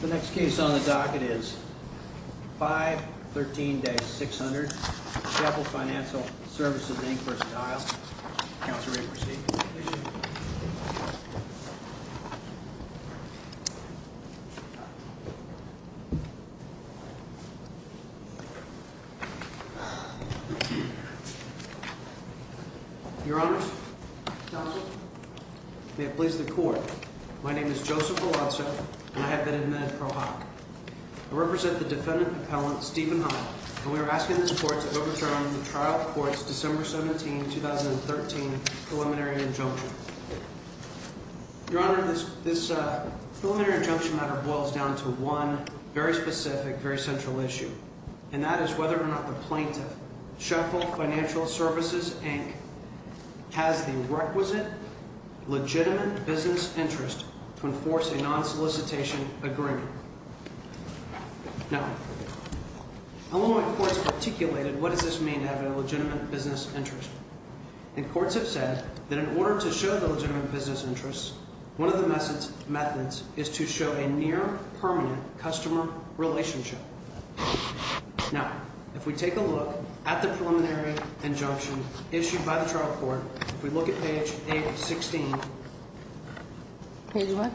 The next case on the docket is 513-600 Sheffel Financial Services, Inc. v. Heil. Counselor, may you proceed. Your Honors, Counselor, may it please the Court, my name is Joseph Belazza, and I have been admitted pro hoc. I represent the defendant appellant Stephen Heil, and we are asking the court to overturn the trial court's December 17, 2013 preliminary injunction. Your Honor, this preliminary injunction matter boils down to one very specific, very central issue, and that is whether or not the plaintiff, Sheffel Financial Services, Inc., has the requisite, legitimate business interest to enforce a non-solicitation agreement. Now, Illinois courts articulated what does this mean to have a legitimate business interest, and courts have said that in order to show the legitimate business interest, one of the methods is to show a near permanent customer relationship. Now, if we take a look at the preliminary injunction issued by the trial court, if we look at page 8 of 16. Page what?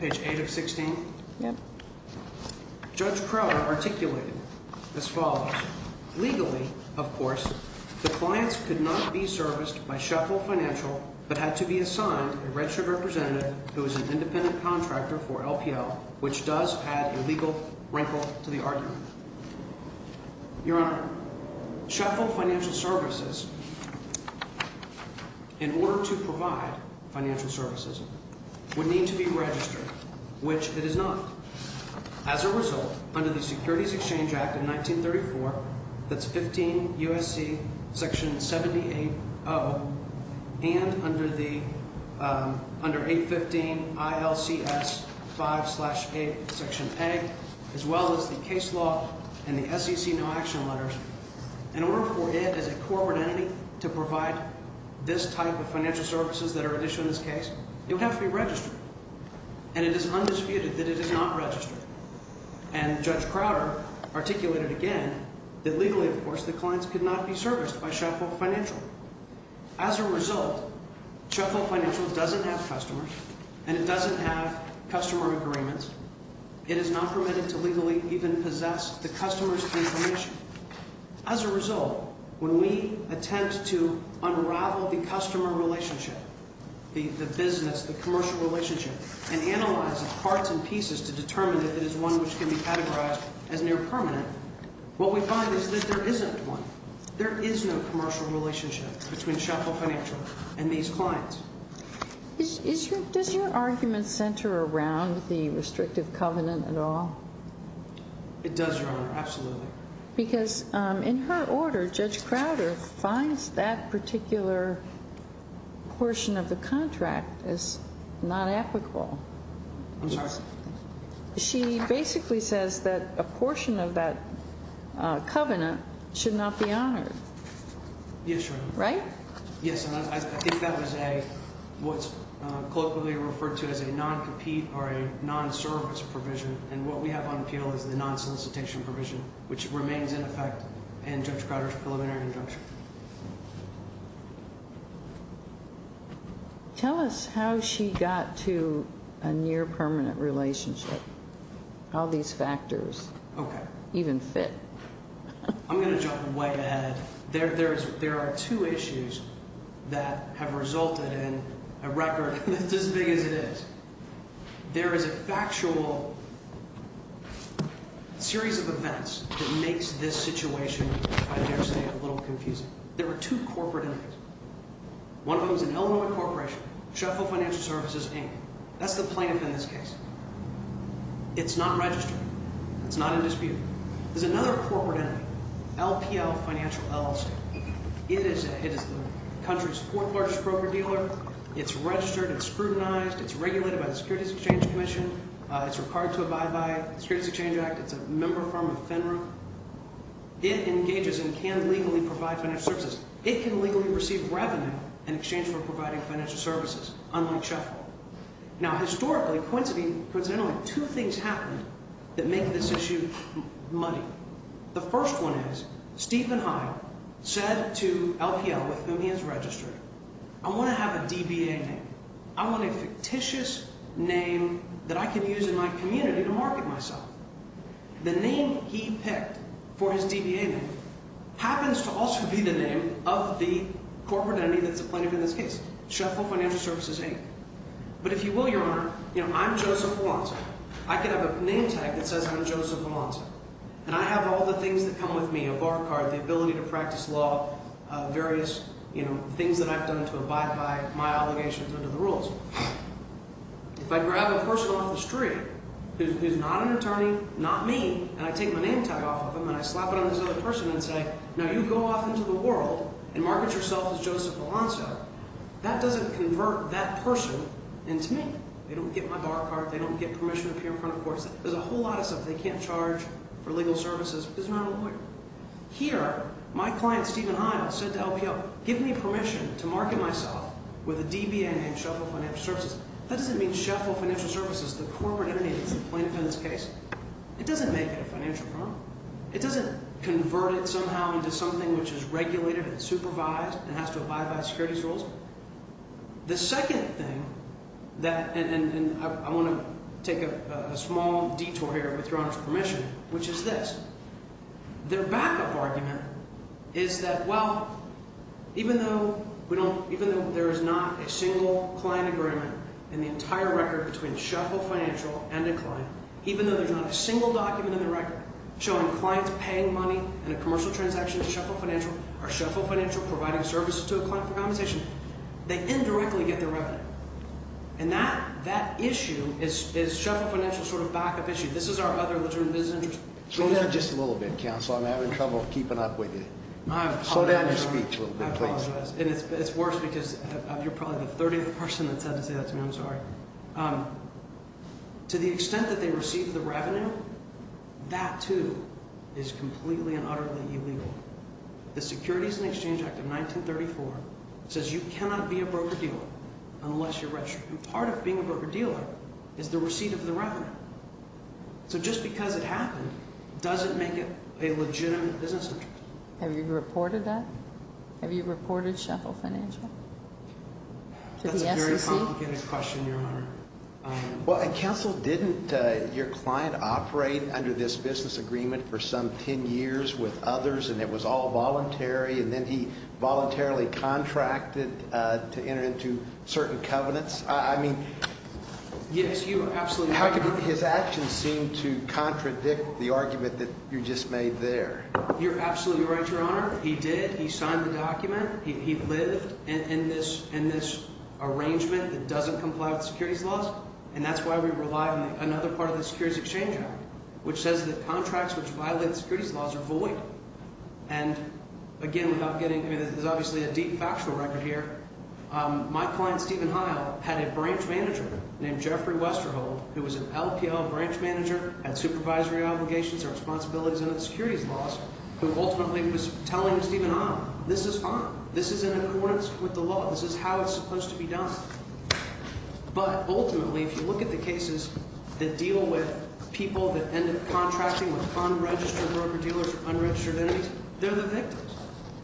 Page 8 of 16. Yeah. Judge Crowder articulated as follows. Legally, of course, the clients could not be serviced by Sheffel Financial, but had to be assigned a registered representative who is an independent contractor for LPL, which does add a legal wrinkle to the argument. Your Honor, Sheffel Financial Services, in order to provide financial services, would need to be registered, which it is not. As a result, under the Securities Exchange Act of 1934, that's 15 U.S.C. section 780, and under 815 ILCS 5 slash 8 section A, as well as the case law and the SEC no action letters, in order for it as a corporate entity to provide this type of financial services that are at issue in this case, it would have to be registered. And it is undisputed that it is not registered. And Judge Crowder articulated again that legally, of course, the clients could not be serviced by Sheffel Financial. As a result, Sheffel Financial doesn't have customers and it doesn't have customer agreements. It is not permitted to legally even possess the customer's information. As a result, when we attempt to unravel the customer relationship, the business, the commercial relationship, and analyze it in parts and pieces to determine if it is one which can be categorized as near permanent, what we find is that there isn't one. There is no commercial relationship between Sheffel Financial and these clients. Does your argument center around the restrictive covenant at all? It does, Your Honor, absolutely. Because in her order, Judge Crowder finds that particular portion of the contract as not applicable. I'm sorry? She basically says that a portion of that covenant should not be honored. Yes, Your Honor. Right? Yes, and I think that was a, what's colloquially referred to as a non-compete or a non-service provision, and what we have on appeal is the non-solicitation provision, which remains in effect in Judge Crowder's preliminary injunction. Tell us how she got to a near permanent relationship. How these factors even fit. I'm going to jump way ahead. There are two issues that have resulted in a record that's as big as it is. There is a factual series of events that makes this situation, I dare say, a little confusing. There are two corporate entities. One of them is an Illinois corporation, Sheffel Financial Services, Inc. That's the plaintiff in this case. It's not registered. It's not in dispute. There's another corporate entity, LPL Financial LLC. It is the country's fourth largest broker dealer. It's registered. It's scrutinized. It's regulated by the Securities Exchange Commission. It's required to abide by the Securities Exchange Act. It's a member firm of FINRA. It engages and can legally provide financial services. It can legally receive revenue in exchange for providing financial services, unlike Sheffel. Now, historically, coincidentally, two things happened that make this issue money. The first one is Stephen Hyde said to LPL, with whom he is registered, I want to have a DBA name. I want a fictitious name that I can use in my community to market myself. The name he picked for his DBA name happens to also be the name of the corporate entity that's the plaintiff in this case, Sheffel Financial Services, Inc. But if you will, Your Honor, I'm Joseph Amante. I could have a name tag that says I'm Joseph Amante, and I have all the things that come with me, a bar card, the ability to practice law, various things that I've done to abide by my obligations under the rules. If I grab a person off the street who's not an attorney, not me, and I take my name tag off of him and I slap it on this other person and say, now you go off into the world and market yourself as Joseph Amante, that doesn't convert that person into me. They don't get my bar card. They don't get permission to appear in front of courts. There's a whole lot of stuff they can't charge for legal services because they're not a lawyer. Here, my client Stephen Heil said to LPL, give me permission to market myself with a DBA named Sheffel Financial Services. That doesn't mean Sheffel Financial Services, the corporate entity that's the plaintiff in this case. It doesn't make it a financial firm. It doesn't convert it somehow into something which is regulated and supervised and has to abide by securities rules. The second thing that – and I want to take a small detour here with Your Honor's permission, which is this. Their backup argument is that, well, even though we don't – even though there is not a single client agreement in the entire record between Sheffel Financial and a client, even though there's not a single document in the record showing clients paying money in a commercial transaction to Sheffel Financial or Sheffel Financial providing services to a client for compensation, they indirectly get their revenue. And that issue is Sheffel Financial's sort of backup issue. This is our other legitimate business interest. Slow down just a little bit, counsel. I'm having trouble keeping up with you. Slow down your speech a little bit, please. I apologize, and it's worse because you're probably the 30th person that said to say that to me. I'm sorry. To the extent that they receive the revenue, that too is completely and utterly illegal. The Securities and Exchange Act of 1934 says you cannot be a broker-dealer unless you're registered. So just because it happened doesn't make it a legitimate business interest. Have you reported that? Have you reported Sheffel Financial to the SEC? That's a very complicated question, Your Honor. Well, and, counsel, didn't your client operate under this business agreement for some 10 years with others, and it was all voluntary, and then he voluntarily contracted to enter into certain covenants? I mean, his actions seem to contradict the argument that you just made there. You're absolutely right, Your Honor. He did. He signed the document. He lived in this arrangement that doesn't comply with the securities laws, and that's why we rely on another part of the Securities and Exchange Act, which says that contracts which violate the securities laws are void. And, again, without getting – I mean, there's obviously a deep factual record here. My client, Stephen Heil, had a branch manager named Jeffrey Westerhold, who was an LPL branch manager, had supervisory obligations or responsibilities under the securities laws, who ultimately was telling Stephen Heil, this is fine. This is in accordance with the law. This is how it's supposed to be done. But, ultimately, if you look at the cases that deal with people that end up contracting with unregistered broker-dealers or unregistered entities, they're the victims.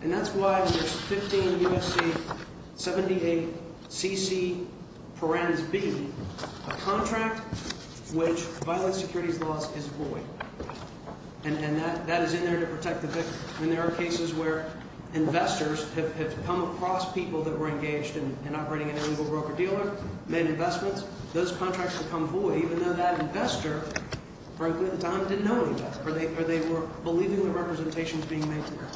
And that's why there's 15 U.S.C. 78 C.C. Perens B, a contract which violates securities laws is void. And that is in there to protect the victim. And there are cases where investors have come across people that were engaged in operating an illegal broker-dealer, made investments. Those contracts become void, even though that investor, for a good amount of time, didn't know any of that or they were believing the representations being made there.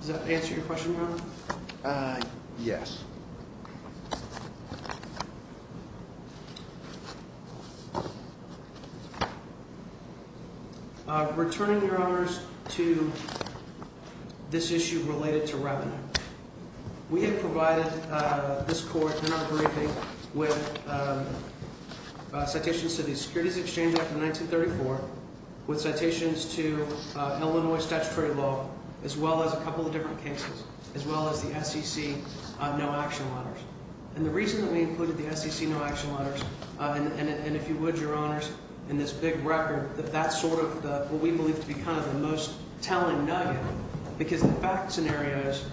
Does that answer your question, Your Honor? Returning, Your Honors, to this issue related to revenue. We have provided this court, in our briefing, with citations to the Securities Exchange Act of 1934, with citations to Illinois statutory law, as well as a couple of different cases, as well as the SEC no-action letters. And the reason that we included the SEC no-action letters, and if you would, Your Honors, in this big record, that that's sort of what we believe to be kind of the most telling nugget, because the fact scenarios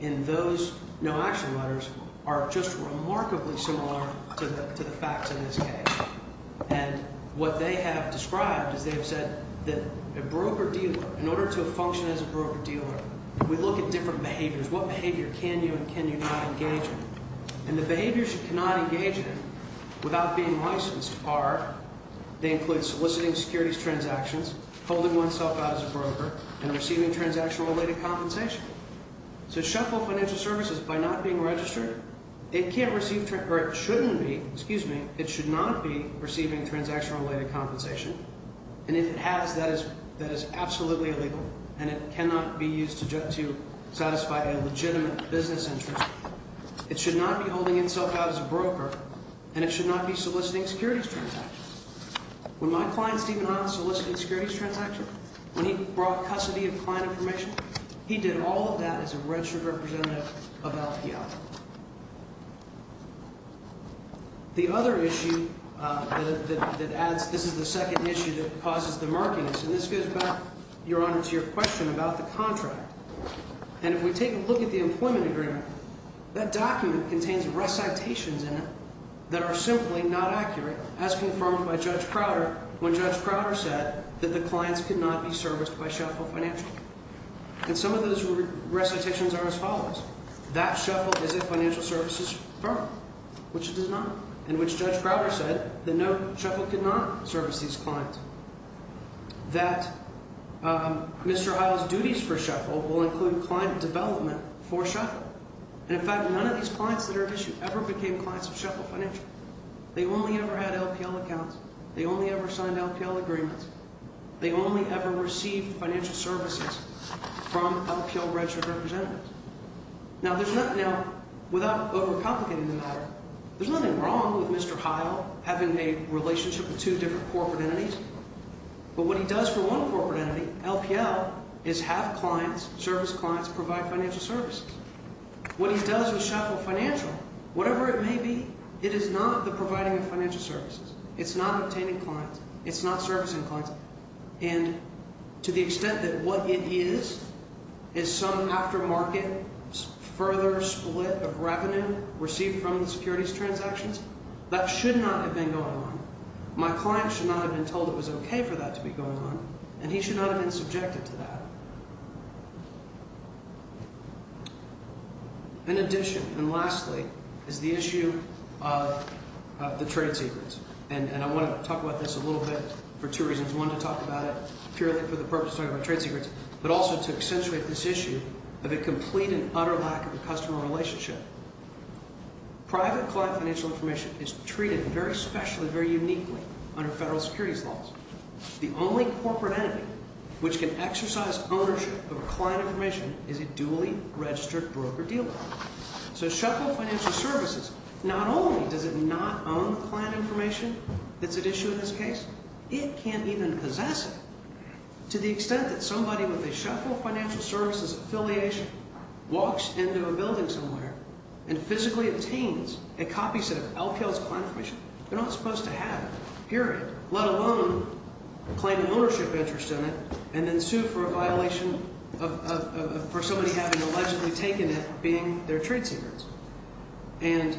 in those no-action letters are just remarkably similar to the facts in this case. And what they have described is they have said that a broker-dealer, in order to function as a broker-dealer, we look at different behaviors. What behavior can you and can you not engage in? And the behaviors you cannot engage in without being licensed are, they include soliciting securities transactions, holding oneself out as a broker, and receiving transaction-related compensation. To shuffle financial services by not being registered, it can't receive, or it shouldn't be, excuse me, it should not be receiving transaction-related compensation. And if it has, that is absolutely illegal, and it cannot be used to satisfy a legitimate business interest. It should not be holding itself out as a broker, and it should not be soliciting securities transactions. When my client Stephen Hines solicited securities transactions, when he brought custody of client information, he did all of that as a registered representative of LPL. The other issue that adds, this is the second issue that causes the markings, and this goes back, Your Honor, to your question about the contract. And if we take a look at the employment agreement, that document contains recitations in it that are simply not accurate, as confirmed by Judge Crowder when Judge Crowder said that the clients could not be serviced by Shuffle Financial. And some of those recitations are as follows. That Shuffle is a financial services firm, which it is not, in which Judge Crowder said that no, Shuffle could not service these clients. That Mr. Heil's duties for Shuffle will include client development for Shuffle. And in fact, none of these clients that are at issue ever became clients of Shuffle Financial. They only ever had LPL accounts. They only ever signed LPL agreements. They only ever received financial services from LPL registered representatives. Now, there's nothing now, without overcomplicating the matter, there's nothing wrong with Mr. Heil having a relationship with two different corporate entities. But what he does for one corporate entity, LPL, is have clients, service clients, provide financial services. What he does with Shuffle Financial, whatever it may be, it is not the providing of financial services. It's not obtaining clients. It's not servicing clients. And to the extent that what it is, is some aftermarket further split of revenue received from the securities transactions, that should not have been going on. My client should not have been told it was okay for that to be going on, and he should not have been subjected to that. In addition, and lastly, is the issue of the trade secrets. And I want to talk about this a little bit for two reasons. One, to talk about it purely for the purpose of talking about trade secrets, but also to accentuate this issue of a complete and utter lack of a customer relationship. Private client financial information is treated very specially, very uniquely under federal securities laws. The only corporate entity which can exercise ownership of client information is a duly registered broker-dealer. So Shuffle Financial Services, not only does it not own the client information that's at issue in this case, it can't even possess it. To the extent that somebody with a Shuffle Financial Services affiliation walks into a building somewhere and physically obtains a copy set of LPL's client information, they're not supposed to have it. Period. Let alone claim an ownership interest in it, and then sue for a violation for somebody having allegedly taken it being their trade secrets. And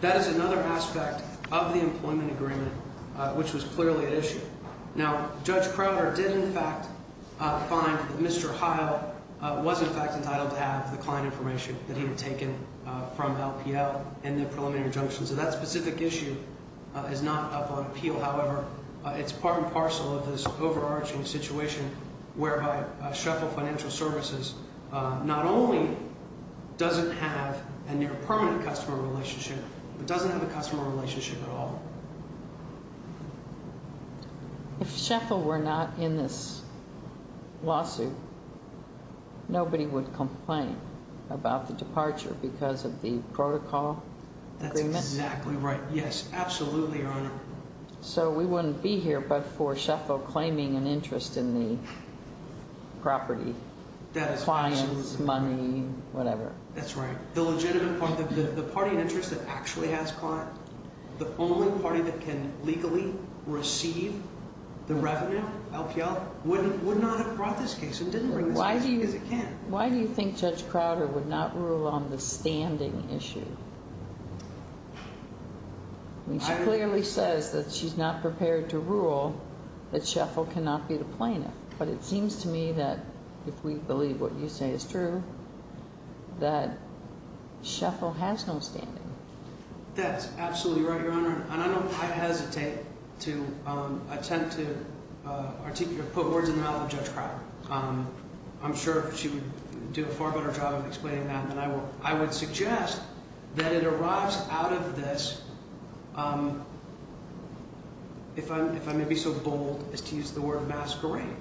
that is another aspect of the employment agreement which was clearly at issue. Now, Judge Crowder did in fact find that Mr. Heil was in fact entitled to have the client information that he had taken from LPL in the preliminary injunction. It's part and parcel of this overarching situation whereby Shuffle Financial Services not only doesn't have a near permanent customer relationship, but doesn't have a customer relationship at all. If Shuffle were not in this lawsuit, nobody would complain about the departure because of the protocol agreements? That's exactly right. Yes, absolutely, Your Honor. So we wouldn't be here but for Shuffle claiming an interest in the property, clients, money, whatever. That's right. The legitimate part, the party interest that actually has client, the only party that can legally receive the revenue, LPL, would not have brought this case, and didn't bring this case because it can. Why do you think Judge Crowder would not rule on the standing issue? She clearly says that she's not prepared to rule that Shuffle cannot be the plaintiff. But it seems to me that if we believe what you say is true, that Shuffle has no standing. That's absolutely right, Your Honor. And I don't quite hesitate to attempt to articulate or put words in the mouth of Judge Crowder. I'm sure she would do a far better job of explaining that than I will. I would suggest that it arrives out of this, if I may be so bold as to use the word masquerade.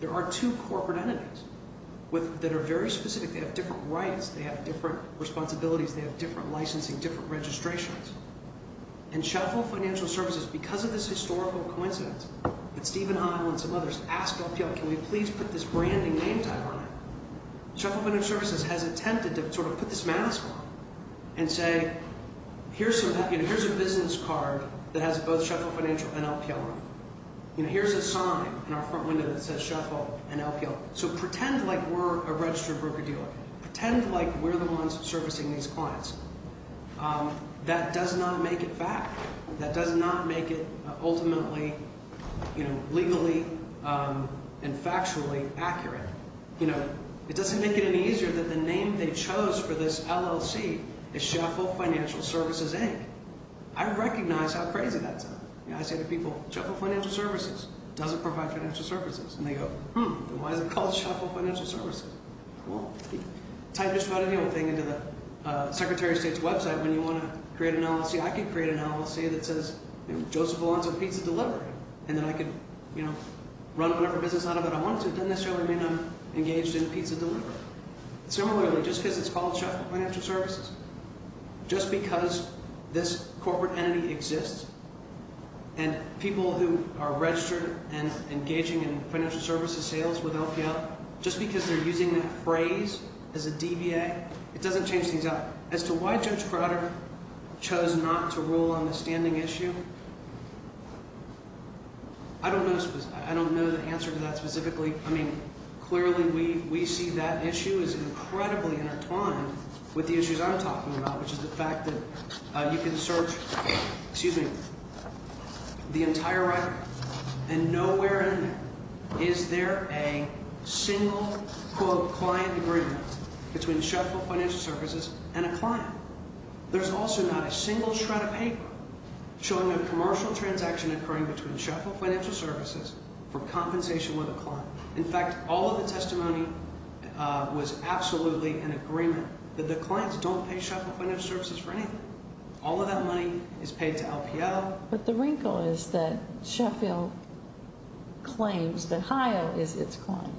There are two corporate entities that are very specific. They have different rights. They have different responsibilities. They have different licensing, different registrations. And Shuffle Financial Services, because of this historical coincidence, that Stephen Heil and some others asked LPL, can we please put this branding name tag on it? Shuffle Financial Services has attempted to sort of put this mask on and say, here's a business card that has both Shuffle Financial and LPL on it. Here's a sign in our front window that says Shuffle and LPL. So pretend like we're a registered broker dealer. Pretend like we're the ones servicing these clients. That does not make it fact. That does not make it ultimately legally and factually accurate. It doesn't make it any easier that the name they chose for this LLC is Shuffle Financial Services, Inc. I recognize how crazy that sounds. I say to people, Shuffle Financial Services doesn't provide financial services. And they go, hmm, then why is it called Shuffle Financial Services? Well, type just about any old thing into the Secretary of State's website when you want to create an LLC. I could create an LLC that says Joseph Alonzo Pizza Delivery, and then I could run whatever business out of it I wanted to. Doesn't necessarily mean I'm engaged in pizza delivery. Similarly, just because it's called Shuffle Financial Services, just because this corporate entity exists, and people who are registered and engaging in financial services sales with LPL, just because they're using that phrase as a DBA, it doesn't change things up. As to why Judge Crowder chose not to rule on the standing issue, I don't know the answer to that specifically. I mean, clearly we see that issue as incredibly intertwined with the issues I'm talking about, which is the fact that you can search the entire record, and nowhere in there is there a single, quote, client agreement between Shuffle Financial Services and a client. There's also not a single shred of paper showing a commercial transaction occurring between Shuffle Financial Services for compensation with a client. In fact, all of the testimony was absolutely in agreement that the clients don't pay Shuffle Financial Services for anything. All of that money is paid to LPL. But the wrinkle is that Shuffle claims that HIO is its client,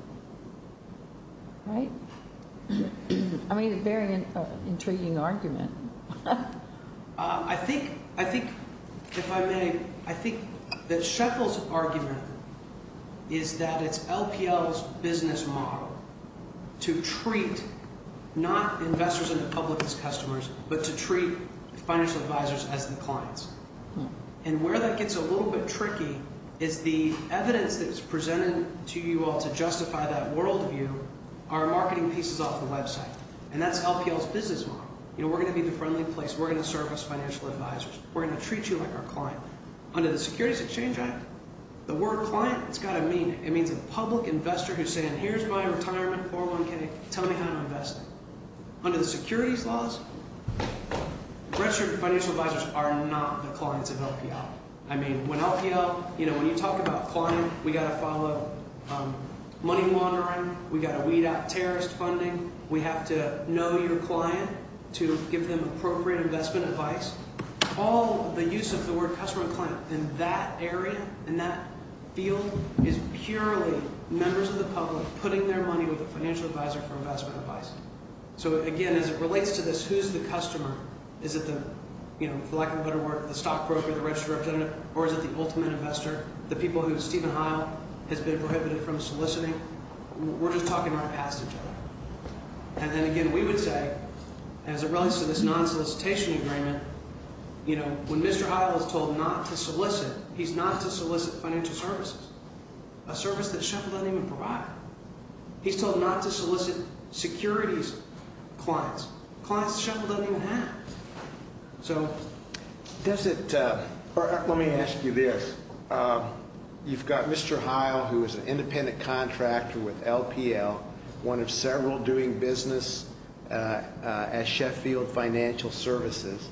right? I mean, a very intriguing argument. I think, if I may, I think that Shuffle's argument is that it's LPL's business model to treat not investors and the public as customers, but to treat financial advisors as the clients. And where that gets a little bit tricky is the evidence that's presented to you all to justify that worldview are marketing pieces off the website. And that's LPL's business model. You know, we're going to be the friendly place. We're going to serve as financial advisors. We're going to treat you like our client. Under the Securities Exchange Act, the word client, it's got a meaning. It means a public investor who's saying, here's my retirement 401k. Tell me how to invest it. Under the securities laws, registered financial advisors are not the clients of LPL. I mean, when LPL, you know, when you talk about client, we've got to follow money laundering. We've got to weed out terrorist funding. We have to know your client to give them appropriate investment advice. All the use of the word customer and client in that area, in that field, is purely members of the public putting their money with a financial advisor for investment advice. So, again, as it relates to this, who's the customer? Is it the, you know, for lack of a better word, the stock broker, the registered representative, or is it the ultimate investor, the people who Stephen Heil has been prohibited from soliciting? We're just talking right past each other. And then, again, we would say, as it relates to this non-solicitation agreement, you know, when Mr. Heil is told not to solicit, he's not to solicit financial services, a service that Sheffield doesn't even provide. He's told not to solicit securities clients, clients Sheffield doesn't even have. So does it, or let me ask you this. You've got Mr. Heil, who is an independent contractor with LPL, one of several doing business at Sheffield Financial Services,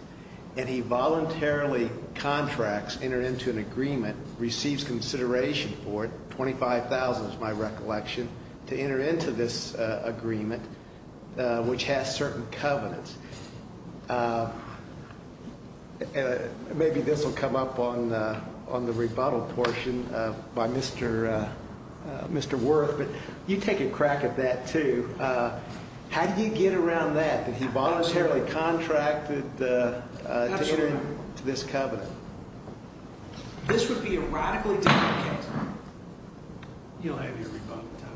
and he voluntarily contracts, entered into an agreement, receives consideration for it, $25,000 is my recollection, to enter into this agreement, which has certain covenants. Maybe this will come up on the rebuttal portion by Mr. Wirth, but you take a crack at that, too. How do you get around that, that he voluntarily contracted to enter into this covenant? This would be a radically different case. You don't have your rebuttal time.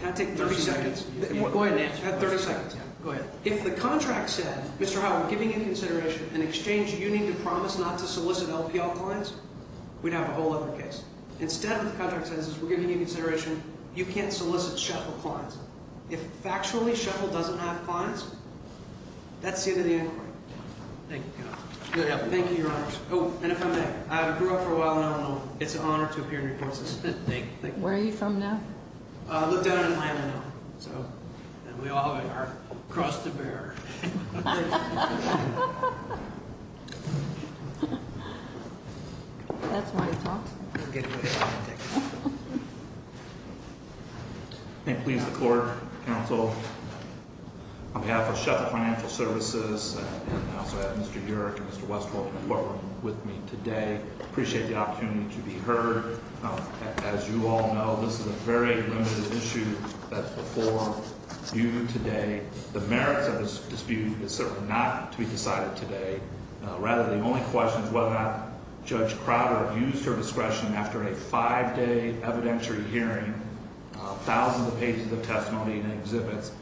Can I take 30 seconds? Go ahead, Nancy. I have 30 seconds. Go ahead. If the contract said, Mr. Heil, we're giving you consideration, in exchange you need to promise not to solicit LPL clients, we'd have a whole other case. Instead, what the contract says is we're giving you consideration, you can't solicit Sheffield clients. If factually Sheffield doesn't have clients, that's the end of the inquiry. Thank you. Thank you, Your Honors. Oh, and if I may, I grew up for a while in Illinois. It's an honor to appear in your court system. Where are you from now? I lived out in Illinois, so we all have our crust to bear. That's why he talked to me. I'm getting rid of that. I thank and please the court, counsel, on behalf of Sheffield Financial Services, and I also have Mr. Yurick and Mr. Westwolf in the courtroom with me today. I appreciate the opportunity to be heard. As you all know, this is a very limited issue that's before you today. The merits of this dispute is certainly not to be decided today. Rather, the only question is whether or not Judge Crowder used her discretion after a five-day evidentiary hearing, thousands of pages of testimony and exhibits,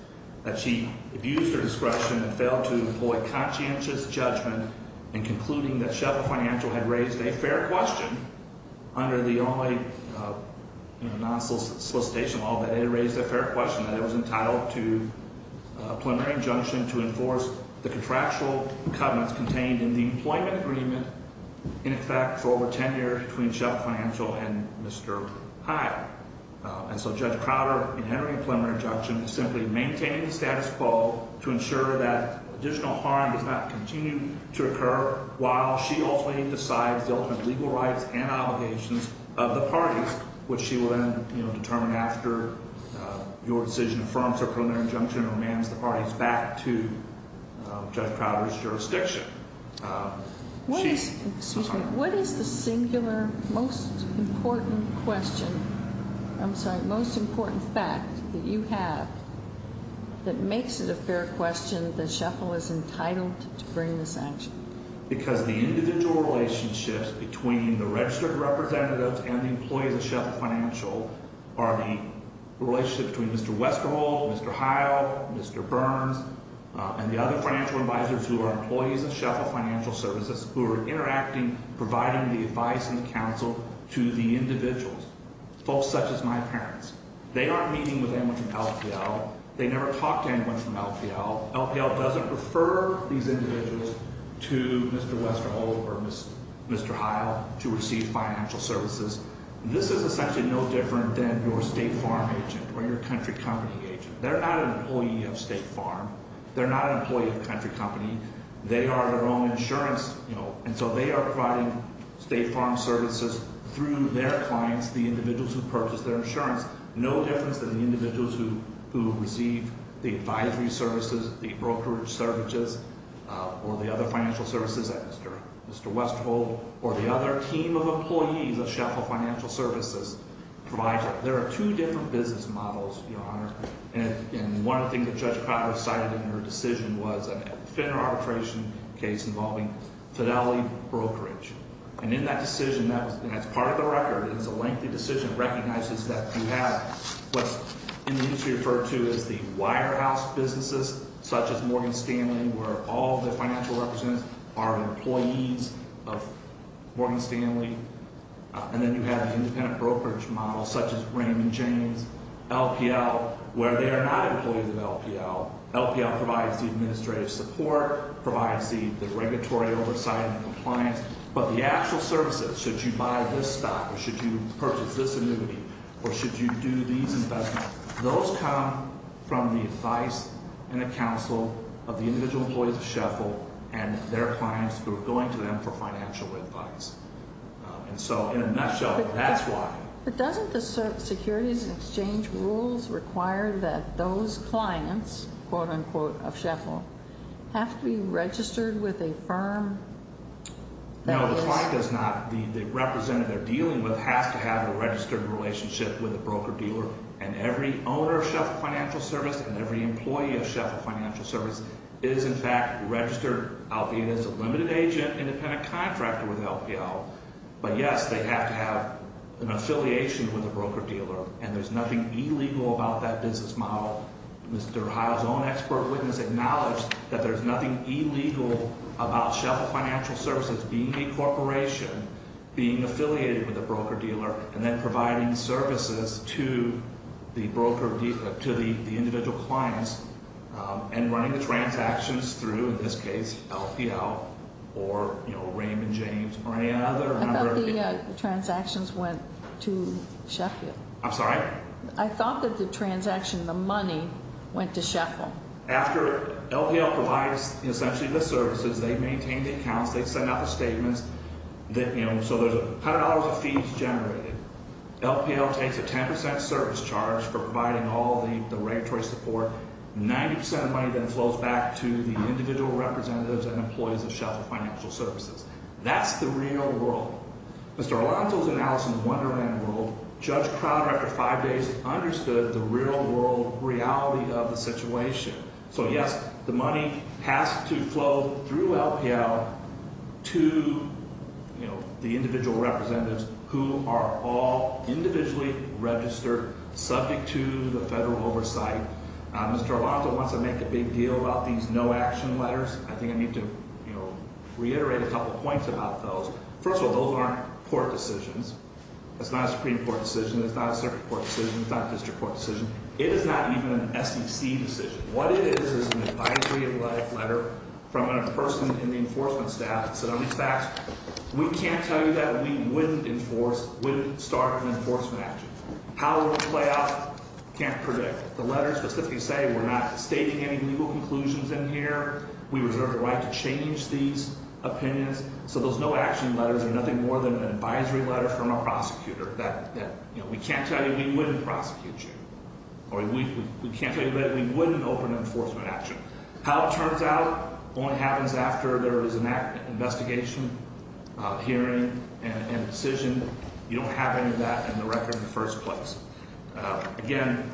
that she abused her discretion and failed to employ conscientious judgment in concluding that Sheffield Financial had raised a fair question under the only non-solicitation law that it had raised a fair question that it was entitled to a plenary injunction to enforce the contractual covenants contained in the employment agreement, in effect, for over 10 years between Sheffield Financial and Mr. Hyde. And so Judge Crowder, in entering a plenary injunction, is simply maintaining the status quo to ensure that additional harm does not continue to occur while she ultimately decides the ultimate legal rights and obligations of the parties, which she will then determine after your decision affirms her plenary injunction and remands the parties back to Judge Crowder's jurisdiction. Excuse me. What is the singular most important question? I'm sorry, most important fact that you have that makes it a fair question that Sheffield is entitled to bring this action? Because the individual relationships between the registered representatives and the employees of Sheffield Financial are the relationship between Mr. Westerhold, Mr. Hyde, Mr. Burns, and the other financial advisors who are employees of Sheffield Financial Services who are interacting, providing the advice and counsel to the individuals, folks such as my parents. They aren't meeting with anyone from LPL. They never talk to anyone from LPL. LPL doesn't refer these individuals to Mr. Westerhold or Mr. Hyde to receive financial services. This is essentially no different than your State Farm agent or your country company agent. They're not an employee of State Farm. They're not an employee of a country company. They are their own insurance, you know, and so they are providing State Farm services through their clients, the individuals who purchase their insurance. No difference than the individuals who receive the advisory services, the brokerage services, or the other financial services that Mr. Westerhold or the other team of employees of Sheffield Financial Services provides. There are two different business models, Your Honor, and one of the things that Judge Crocker cited in her decision was a defender arbitration case involving Fidelity Brokerage. And in that decision, and that's part of the record, it's a lengthy decision. It recognizes that you have what's in the industry referred to as the wirehouse businesses, such as Morgan Stanley, where all the financial representatives are employees of Morgan Stanley. And then you have an independent brokerage model, such as Raymond James. LPL, where they are not employees of LPL, LPL provides the administrative support, provides the regulatory oversight and compliance, but the actual services, should you buy this stock or should you purchase this annuity or should you do these investments, those come from the advice and the counsel of the individual employees of Sheffield and their clients who are going to them for financial advice. And so, in a nutshell, that's why. But doesn't the securities exchange rules require that those clients, quote-unquote, of Sheffield, have to be registered with a firm that is... No, the client does not. The representative they're dealing with has to have a registered relationship with a broker dealer and every owner of Sheffield Financial Services and every employee of Sheffield Financial Services is, in fact, registered, albeit as a limited agent, independent contractor with LPL. But, yes, they have to have an affiliation with a broker dealer, and there's nothing illegal about that business model. Mr. Heil's own expert witness acknowledged that there's nothing illegal about Sheffield Financial Services being a corporation, being affiliated with a broker dealer, and then providing services to the individual clients and running the transactions through, in this case, LPL or Raymond James or any other. I thought the transactions went to Sheffield. I'm sorry? I thought that the transaction, the money, went to Sheffield. After LPL provides, essentially, the services, they maintain the accounts, they send out the statements. So there's $100 of fees generated. LPL takes a 10% service charge for providing all the regulatory support. Ninety percent of the money then flows back to the individual representatives and employees of Sheffield Financial Services. That's the real world. Mr. Arlanto's analysis of the wonderland world, Judge Crowder, after five days, understood the real-world reality of the situation. So, yes, the money has to flow through LPL to the individual representatives who are all individually registered, subject to the federal oversight. Mr. Arlanto wants to make a big deal about these no-action letters. I think I need to reiterate a couple points about those. First of all, those aren't court decisions. That's not a Supreme Court decision. That's not a circuit court decision. That's not a district court decision. It is not even an SEC decision. What it is is an advisory letter from a person in the enforcement staff that said, on these facts, we can't tell you that we wouldn't enforce, wouldn't start an enforcement action. How it will play out, can't predict. The letters specifically say we're not stating any legal conclusions in here. We reserve the right to change these opinions. So those no-action letters are nothing more than an advisory letter from a prosecutor that, you know, we can't tell you we wouldn't prosecute you, or we can't tell you that we wouldn't open an enforcement action. How it turns out only happens after there is an investigation, hearing, and decision. You don't have any of that in the record in the first place. Again,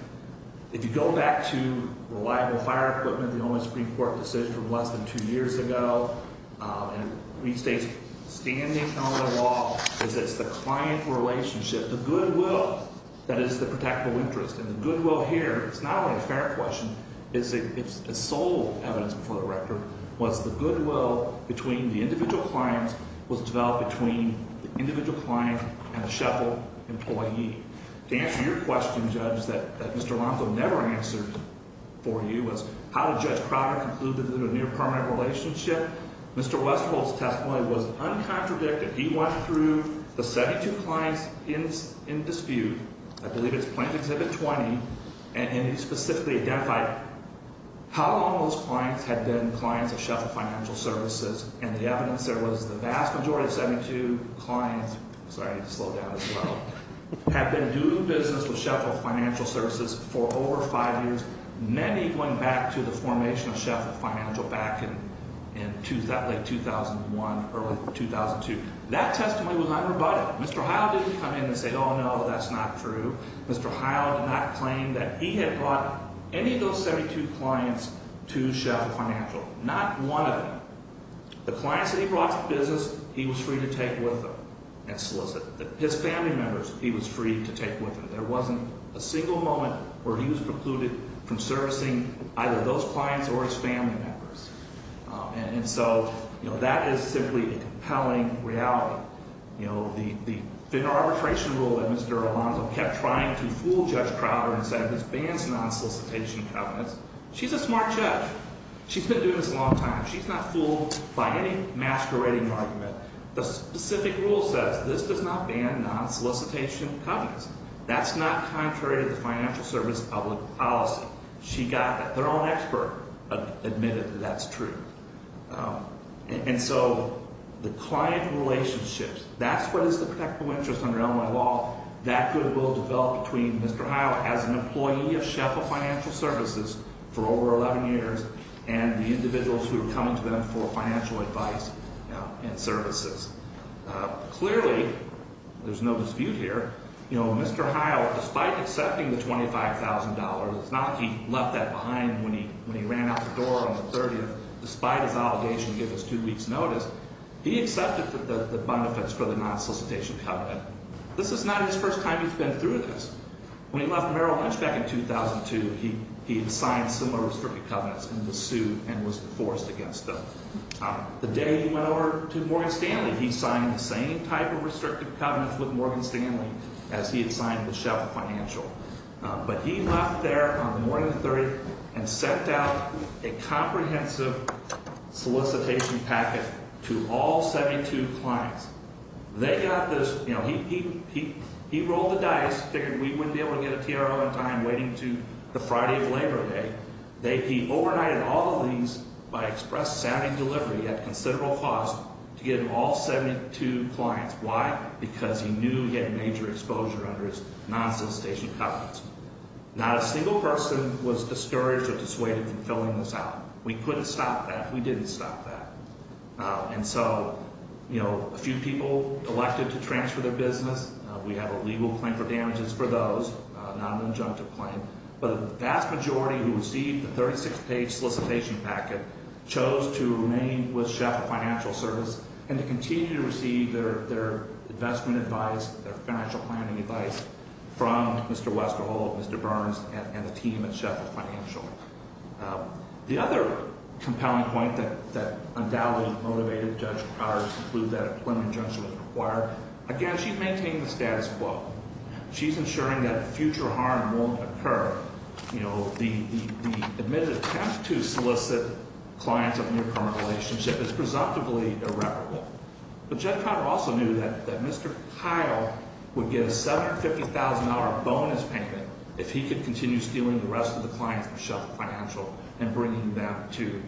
if you go back to reliable fire equipment, the only Supreme Court decision from less than two years ago, and it restates standing on the law, is it's the client relationship, the goodwill that is the protectable interest. And the goodwill here, it's not only a fair question, it's a sole evidence before the rector, was the goodwill between the individual clients was developed between the individual client and the Sheffield employee. To answer your question, Judge, that Mr. Aranco never answered for you, was how did Judge Crowder conclude that there was a near-permanent relationship? Mr. Westphal's testimony was uncontradicted. He went through the 72 clients in dispute. I believe it's Plaintiff Exhibit 20, and he specifically identified how long those clients had been clients of Sheffield Financial Services, and the evidence there was the vast majority of 72 clients – sorry, I need to slow down as well – had been doing business with Sheffield Financial Services for over five years, many going back to the formation of Sheffield Financial back in late 2001, early 2002. That testimony was unrebutted. Mr. Hyland didn't come in and say, oh, no, that's not true. Mr. Hyland did not claim that he had brought any of those 72 clients to Sheffield Financial. Not one of them. The clients that he brought to business, he was free to take with him and solicit. His family members, he was free to take with him. There wasn't a single moment where he was precluded from servicing either those clients or his family members. And so, you know, that is simply a compelling reality. You know, the arbitration rule that Mr. Alonzo kept trying to fool Judge Crowder and said this bans non-solicitation covenants, she's a smart judge. She's been doing this a long time. She's not fooled by any masquerading argument. The specific rule says this does not ban non-solicitation covenants. That's not contrary to the financial service public policy. She got that. Their own expert admitted that that's true. And so the client relationships, that's what is the protectable interest under Illinois law. That rule developed between Mr. Hyland as an employee of Sheffield Financial Services for over 11 years and the individuals who were coming to them for financial advice and services. Clearly, there's no dispute here, you know, Mr. Hyland, despite accepting the $25,000, it's not like he left that behind when he ran out the door on the 30th, despite his obligation to give us two weeks' notice, he accepted the benefits for the non-solicitation covenant. This is not his first time he's been through this. When he left Merrill Lynch back in 2002, he had signed similar restricted covenants in the suit and was forced against them. The day he went over to Morgan Stanley, he signed the same type of restricted covenant with Morgan Stanley as he had signed with Sheffield Financial. But he left there on the morning of the 30th and sent out a comprehensive solicitation packet to all 72 clients. They got this, you know, he rolled the dice, figured we wouldn't be able to get a TRO in time waiting to the Friday of Labor Day. He overnighted all of these by express sounding delivery at considerable cost to get all 72 clients. Why? Because he knew he had major exposure under his non-solicitation covenants. Not a single person was discouraged or dissuaded from filling this out. We couldn't stop that. We didn't stop that. And so, you know, a few people elected to transfer their business. We have a legal claim for damages for those, not an injunctive claim. But the vast majority who received the 36-page solicitation packet chose to remain with Sheffield Financial Service and to continue to receive their investment advice, their financial planning advice from Mr. Westerhold, Mr. Burns, and the team at Sheffield Financial. The other compelling point that undoubtedly motivated Judge Carr to conclude that a preliminary injunction was required, again, she maintained the status quo. She's ensuring that future harm won't occur. You know, the admitted attempt to solicit clients of a near-permanent relationship is presumptively irreparable. But Judge Carr also knew that Mr. Kyle would get a $750,000 bonus payment if he could continue stealing the rest of the clients from Sheffield Financial and bringing them to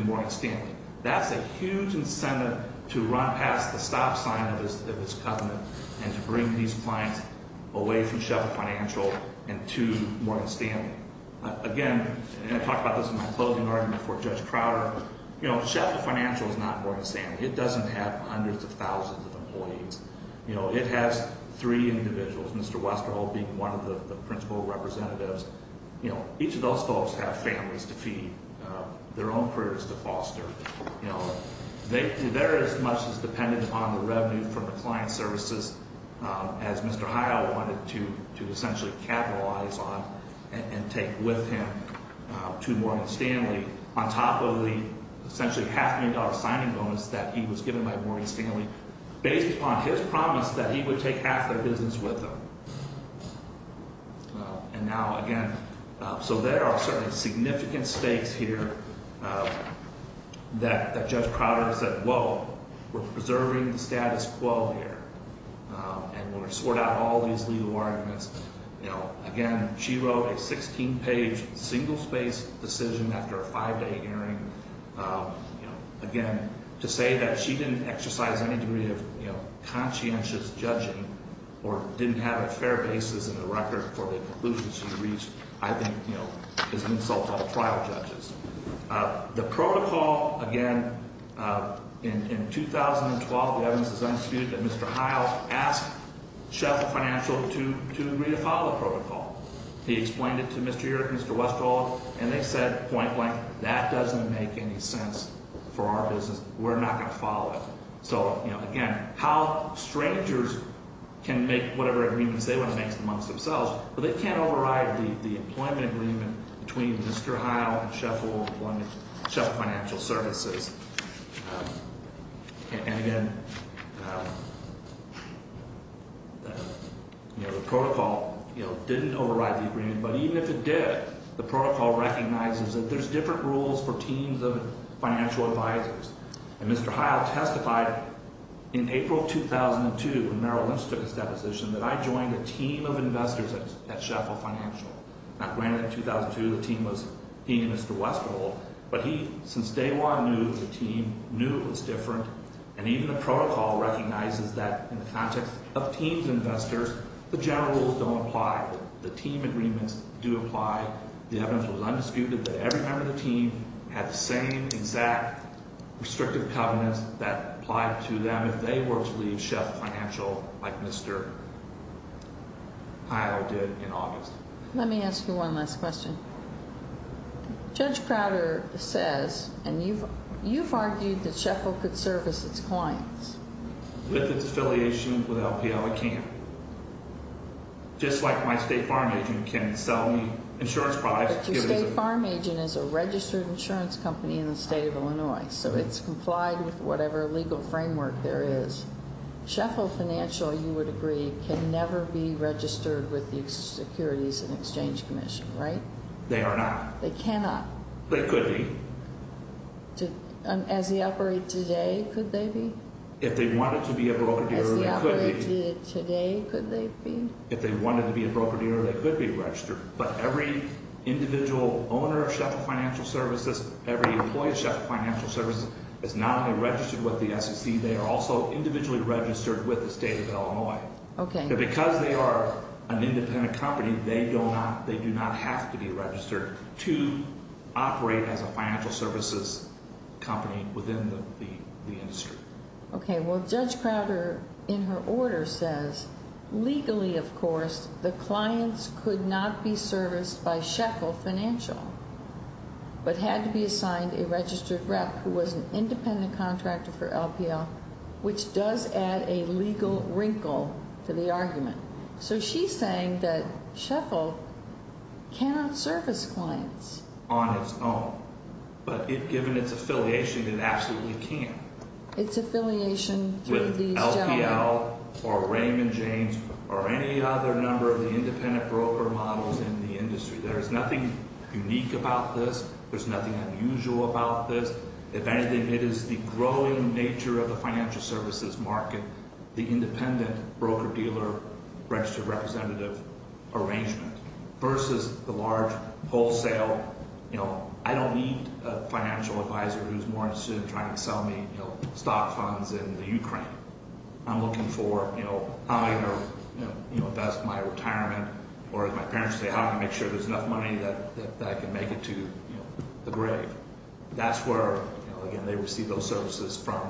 Morgan Stanley. That's a huge incentive to run past the stop sign of his covenant and to bring these clients away from Sheffield Financial and to Morgan Stanley. Again, and I talked about this in my closing argument for Judge Crowder, you know, Sheffield Financial is not Morgan Stanley. It doesn't have hundreds of thousands of employees. You know, it has three individuals, Mr. Westerhold being one of the principal representatives. You know, each of those folks have families to feed, their own careers to foster. You know, they're as much as dependent on the revenue from the client services as Mr. Kyle wanted to essentially capitalize on and take with him to Morgan Stanley on top of the essentially half-million-dollar signing bonus that he was given by Morgan Stanley based upon his promise that he would take half their business with him. And now, again, so there are certainly significant stakes here that Judge Crowder said, whoa, we're preserving the status quo here, and we're going to sort out all these legal arguments. You know, again, she wrote a 16-page single-space decision after a five-day hearing, you know, again, to say that she didn't exercise any degree of, you know, conscientious judging or didn't have a fair basis in the record for the conclusions she reached, I think, you know, is an insult to all trial judges. The protocol, again, in 2012, the evidence is undisputed that Mr. Kyle asked Sheffield Financial to agree to follow the protocol. He explained it to Mr. Urick and Mr. Westerhold, and they said point blank, that doesn't make any sense for our business. We're not going to follow it. So, you know, again, how strangers can make whatever agreements they want to make amongst themselves, but they can't override the employment agreement between Mr. Hyle and Sheffield Financial Services. And again, you know, the protocol, you know, didn't override the agreement, but even if it did, the protocol recognizes that there's different rules for teams of financial advisors. And Mr. Hyle testified in April of 2002, when Merrill Lynch took his deposition, that I joined a team of investors at Sheffield Financial. Now, granted, in 2002, the team was he and Mr. Westerhold, but he, since day one, knew the team, knew it was different, and even the protocol recognizes that in the context of teams of investors, the general rules don't apply. The team agreements do apply. The evidence was undisputed that every member of the team had the same exact restrictive covenants that applied to them if they were to leave Sheffield Financial like Mr. Hyle did in August. Let me ask you one last question. Judge Crowder says, and you've argued that Sheffield could service its clients. Just like my state farm agent can sell me insurance products. But your state farm agent is a registered insurance company in the state of Illinois, so it's complied with whatever legal framework there is. Sheffield Financial, you would agree, can never be registered with the Securities and Exchange Commission, right? They are not. They cannot. They could be. As they operate today, could they be? If they wanted to be a broker dealer, they could be. But every individual owner of Sheffield Financial Services, every employee of Sheffield Financial Services is not only registered with the SEC, they are also individually registered with the state of Illinois. Okay. Because they are an independent company, they do not have to be registered to operate as a financial services company within the industry. Okay. Well, Judge Crowder, in her order, says, legally, of course, the clients could not be serviced by Sheffield Financial, but had to be assigned a registered rep who was an independent contractor for LPL, which does add a legal wrinkle to the argument. So she's saying that Sheffield cannot service clients. On its own. But given its affiliation, it absolutely can. Its affiliation with these gentlemen. With LPL or Raymond James or any other number of the independent broker models in the industry, there is nothing unique about this. There's nothing unusual about this. If anything, it is the growing nature of the financial services market, the independent broker dealer registered representative arrangement, versus the large wholesale, you know, I don't need a financial advisor who's more interested in trying to sell me, you know, stock funds in the Ukraine. I'm looking for, you know, how I'm going to, you know, invest my retirement, or as my parents say, how can I make sure there's enough money that I can make it to, you know, the grave. That's where, you know, again, they receive those services from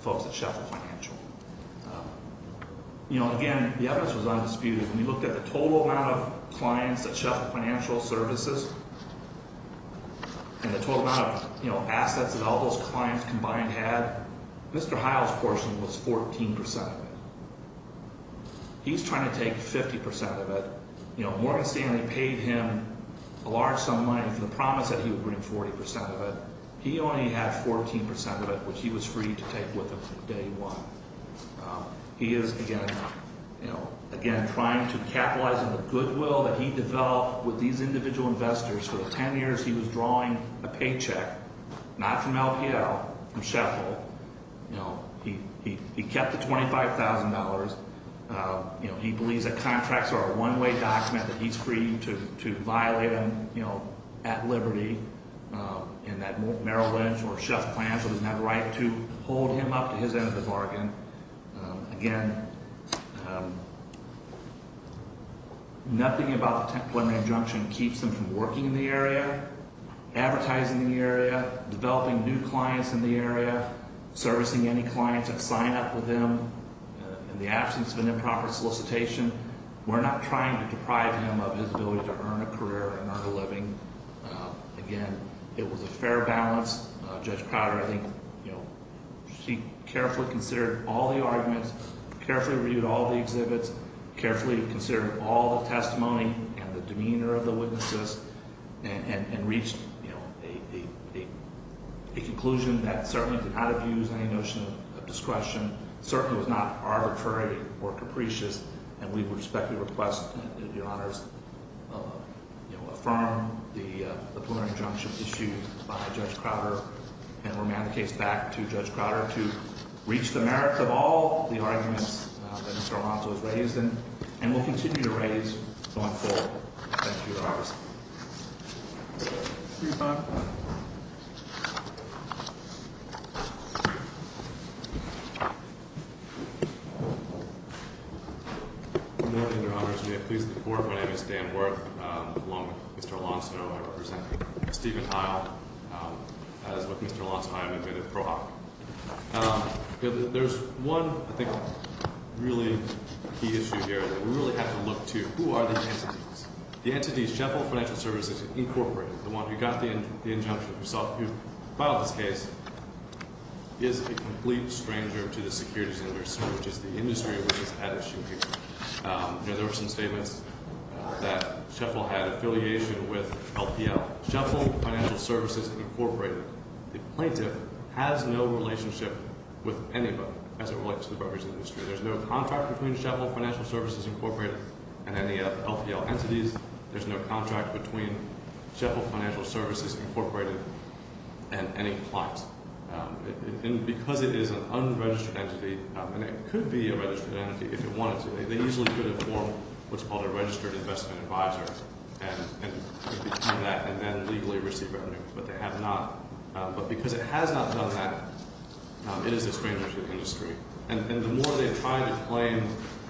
folks at Sheffield Financial. You know, again, the evidence was undisputed. When we looked at the total amount of clients at Sheffield Financial Services and the total amount of, you know, assets that all those clients combined had, Mr. Heil's portion was 14% of it. He's trying to take 50% of it. You know, Morgan Stanley paid him a large sum of money for the promise that he would bring 40% of it. He only had 14% of it, which he was free to take with him from day one. He is, again, you know, again, trying to capitalize on the goodwill that he developed with these individual investors. For the 10 years he was drawing a paycheck, not from LPL, from Sheffield. You know, he kept the $25,000. You know, he believes that contracts are a one-way document, that he's free to violate them, you know, at liberty, and that Merrill Lynch or Sheff Financial doesn't have the right to hold him up to his end of the bargain. Again, nothing about the preliminary injunction keeps him from working in the area, advertising in the area, developing new clients in the area, servicing any clients that sign up with him in the absence of an improper solicitation. We're not trying to deprive him of his ability to earn a career and earn a living. Again, it was a fair balance. Judge Crowder, I think, you know, she carefully considered all the arguments, carefully reviewed all the exhibits, carefully considered all the testimony and the demeanor of the witnesses, and reached, you know, a conclusion that certainly did not abuse any notion of discretion, certainly was not arbitrary or capricious, and we respectfully request, Your Honors, you know, affirm the preliminary injunction issued by Judge Crowder and remand the case back to Judge Crowder to reach the merits of all the arguments that Mr. Alonzo has raised and will continue to raise going forward. Thank you, Your Honors. See you, Bob. Good morning, Your Honors. May it please the Court, my name is Dan Worth. Along with Mr. Alonzo, I represent Stephen Heil as with Mr. Alonzo, I am admitted pro hoc. There's one, I think, really key issue here that we really have to look to. Who are the entities? The entities, Sheffield Financial Services Incorporated, the one who got the injunction, who filed this case, is a complete stranger to the securities industry, which is the industry which is at issue here. You know, there were some statements that Sheffield had affiliation with LPL. Sheffield Financial Services Incorporated, the plaintiff has no relationship with anybody as it relates to the brokerage industry. There's no contract between Sheffield Financial Services Incorporated and any LPL entities. There's no contract between Sheffield Financial Services Incorporated and any clients. And because it is an unregistered entity, and it could be a registered entity if it wanted to, they usually could have formed what's called a registered investment advisor, and it became that and then legally received revenue, but they have not. But because it has not done that, it is a stranger to the industry. And the more they try to claim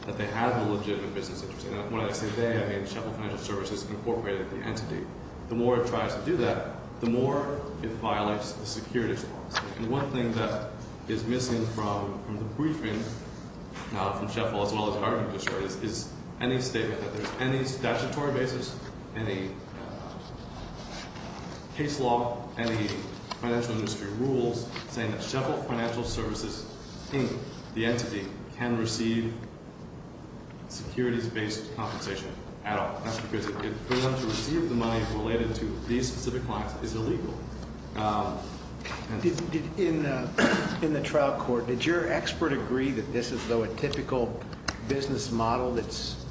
that they have a legitimate business interest, and when I say they, I mean Sheffield Financial Services Incorporated, the entity, the more it tries to do that, the more it violates the securities law. And one thing that is missing from the briefing from Sheffield as well as our judiciary is any statement that there's any statutory basis, any case law, any financial industry rules saying that Sheffield Financial Services Inc., the entity, can receive securities-based compensation at all. That's because for them to receive the money related to these specific clients is illegal. In the trial court, did your expert agree that this is, though, a typical business model that's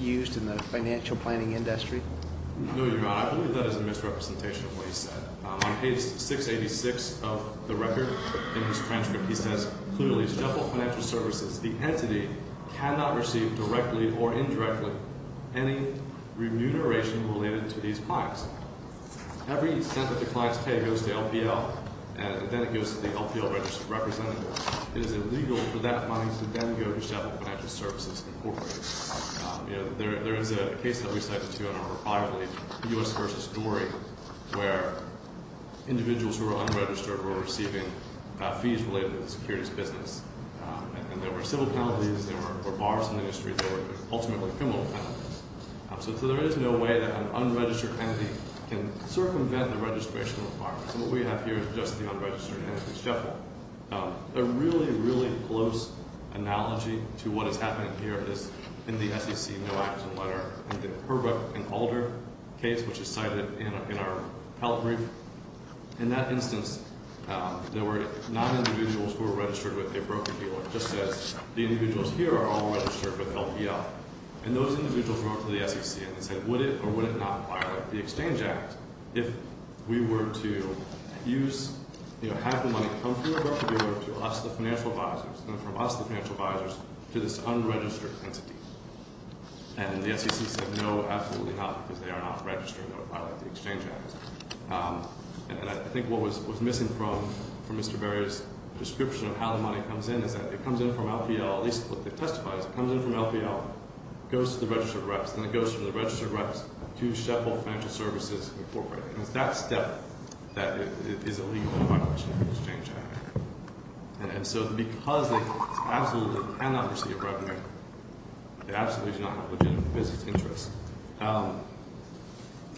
used in the financial planning industry? No, Your Honor. I believe that is a misrepresentation of what he said. On page 686 of the record in his transcript, he says, Clearly, Sheffield Financial Services, the entity, cannot receive directly or indirectly any remuneration related to these clients. Every cent that the clients pay goes to LPL, and then it goes to the LPL representative. It is illegal for that money to then go to Sheffield Financial Services Incorporated. There is a case that we cited, Your Honor, privately, the U.S. versus Dory, where individuals who are unregistered were receiving fees related to the securities business. And there were civil penalties, there were bars in the industry, there were ultimately criminal penalties. So there is no way that an unregistered entity can circumvent the registration requirements. And what we have here is just the unregistered entity, Sheffield. A really, really close analogy to what is happening here is in the SEC no-action letter, in the Herbert and Alder case, which is cited in our help brief. In that instance, there were non-individuals who were registered with a broker dealer, just as the individuals here are all registered with LPL. And those individuals wrote to the SEC and said, Would it or would it not violate the Exchange Act if we were to have the money come through a broker dealer to us, the financial advisors, and from us, the financial advisors, to this unregistered entity? And the SEC said, No, absolutely not, because they are not registered. They would violate the Exchange Act. And I think what was missing from Mr. Berry's description of how the money comes in is that it comes in from LPL, at least what they testify is it comes in from LPL, goes to the registered reps, and it goes from the registered reps to Sheffield Financial Services, and it's that step that is illegal in violation of the Exchange Act. And so because it's absolutely a panoply of revenue, it absolutely is not in the legitimate business interest.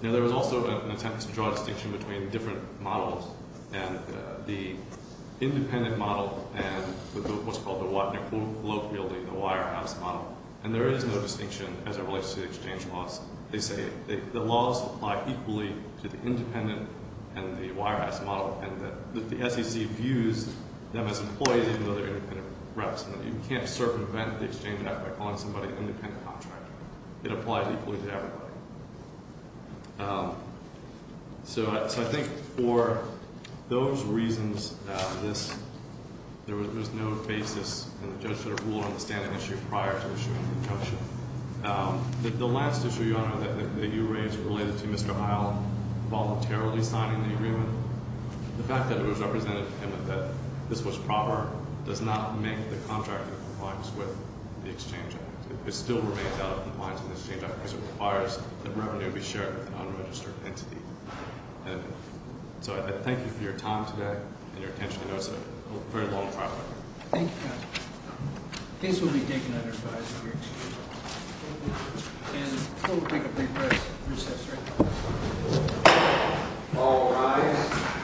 Now, there was also an attempt to draw a distinction between different models, and the independent model and what's called the Wattner-Globe-Wielding, the Wirehouse model. And there is no distinction as it relates to the exchange laws. They say the laws apply equally to the independent and the Wirehouse model, and that the SEC views them as employees even though they're independent reps, and that you can't circumvent the Exchange Act by calling somebody an independent contractor. It applies equally to everybody. So I think for those reasons, there was no basis, and the judge sort of ruled on the standing issue prior to issuing the injunction. The last issue, Your Honor, that you raised related to Mr. Isle voluntarily signing the agreement, the fact that it was represented to him that this was proper does not make the contractor compliance with the Exchange Act. It still remains out of compliance with the Exchange Act because it requires that revenue be shared with an unregistered entity. And so I thank you for your time today and your attention. I know it's a very long trial. Thank you, counsel. These will be taken under advise if you're excused. And we're going to take a big break. Recess right now. All rise.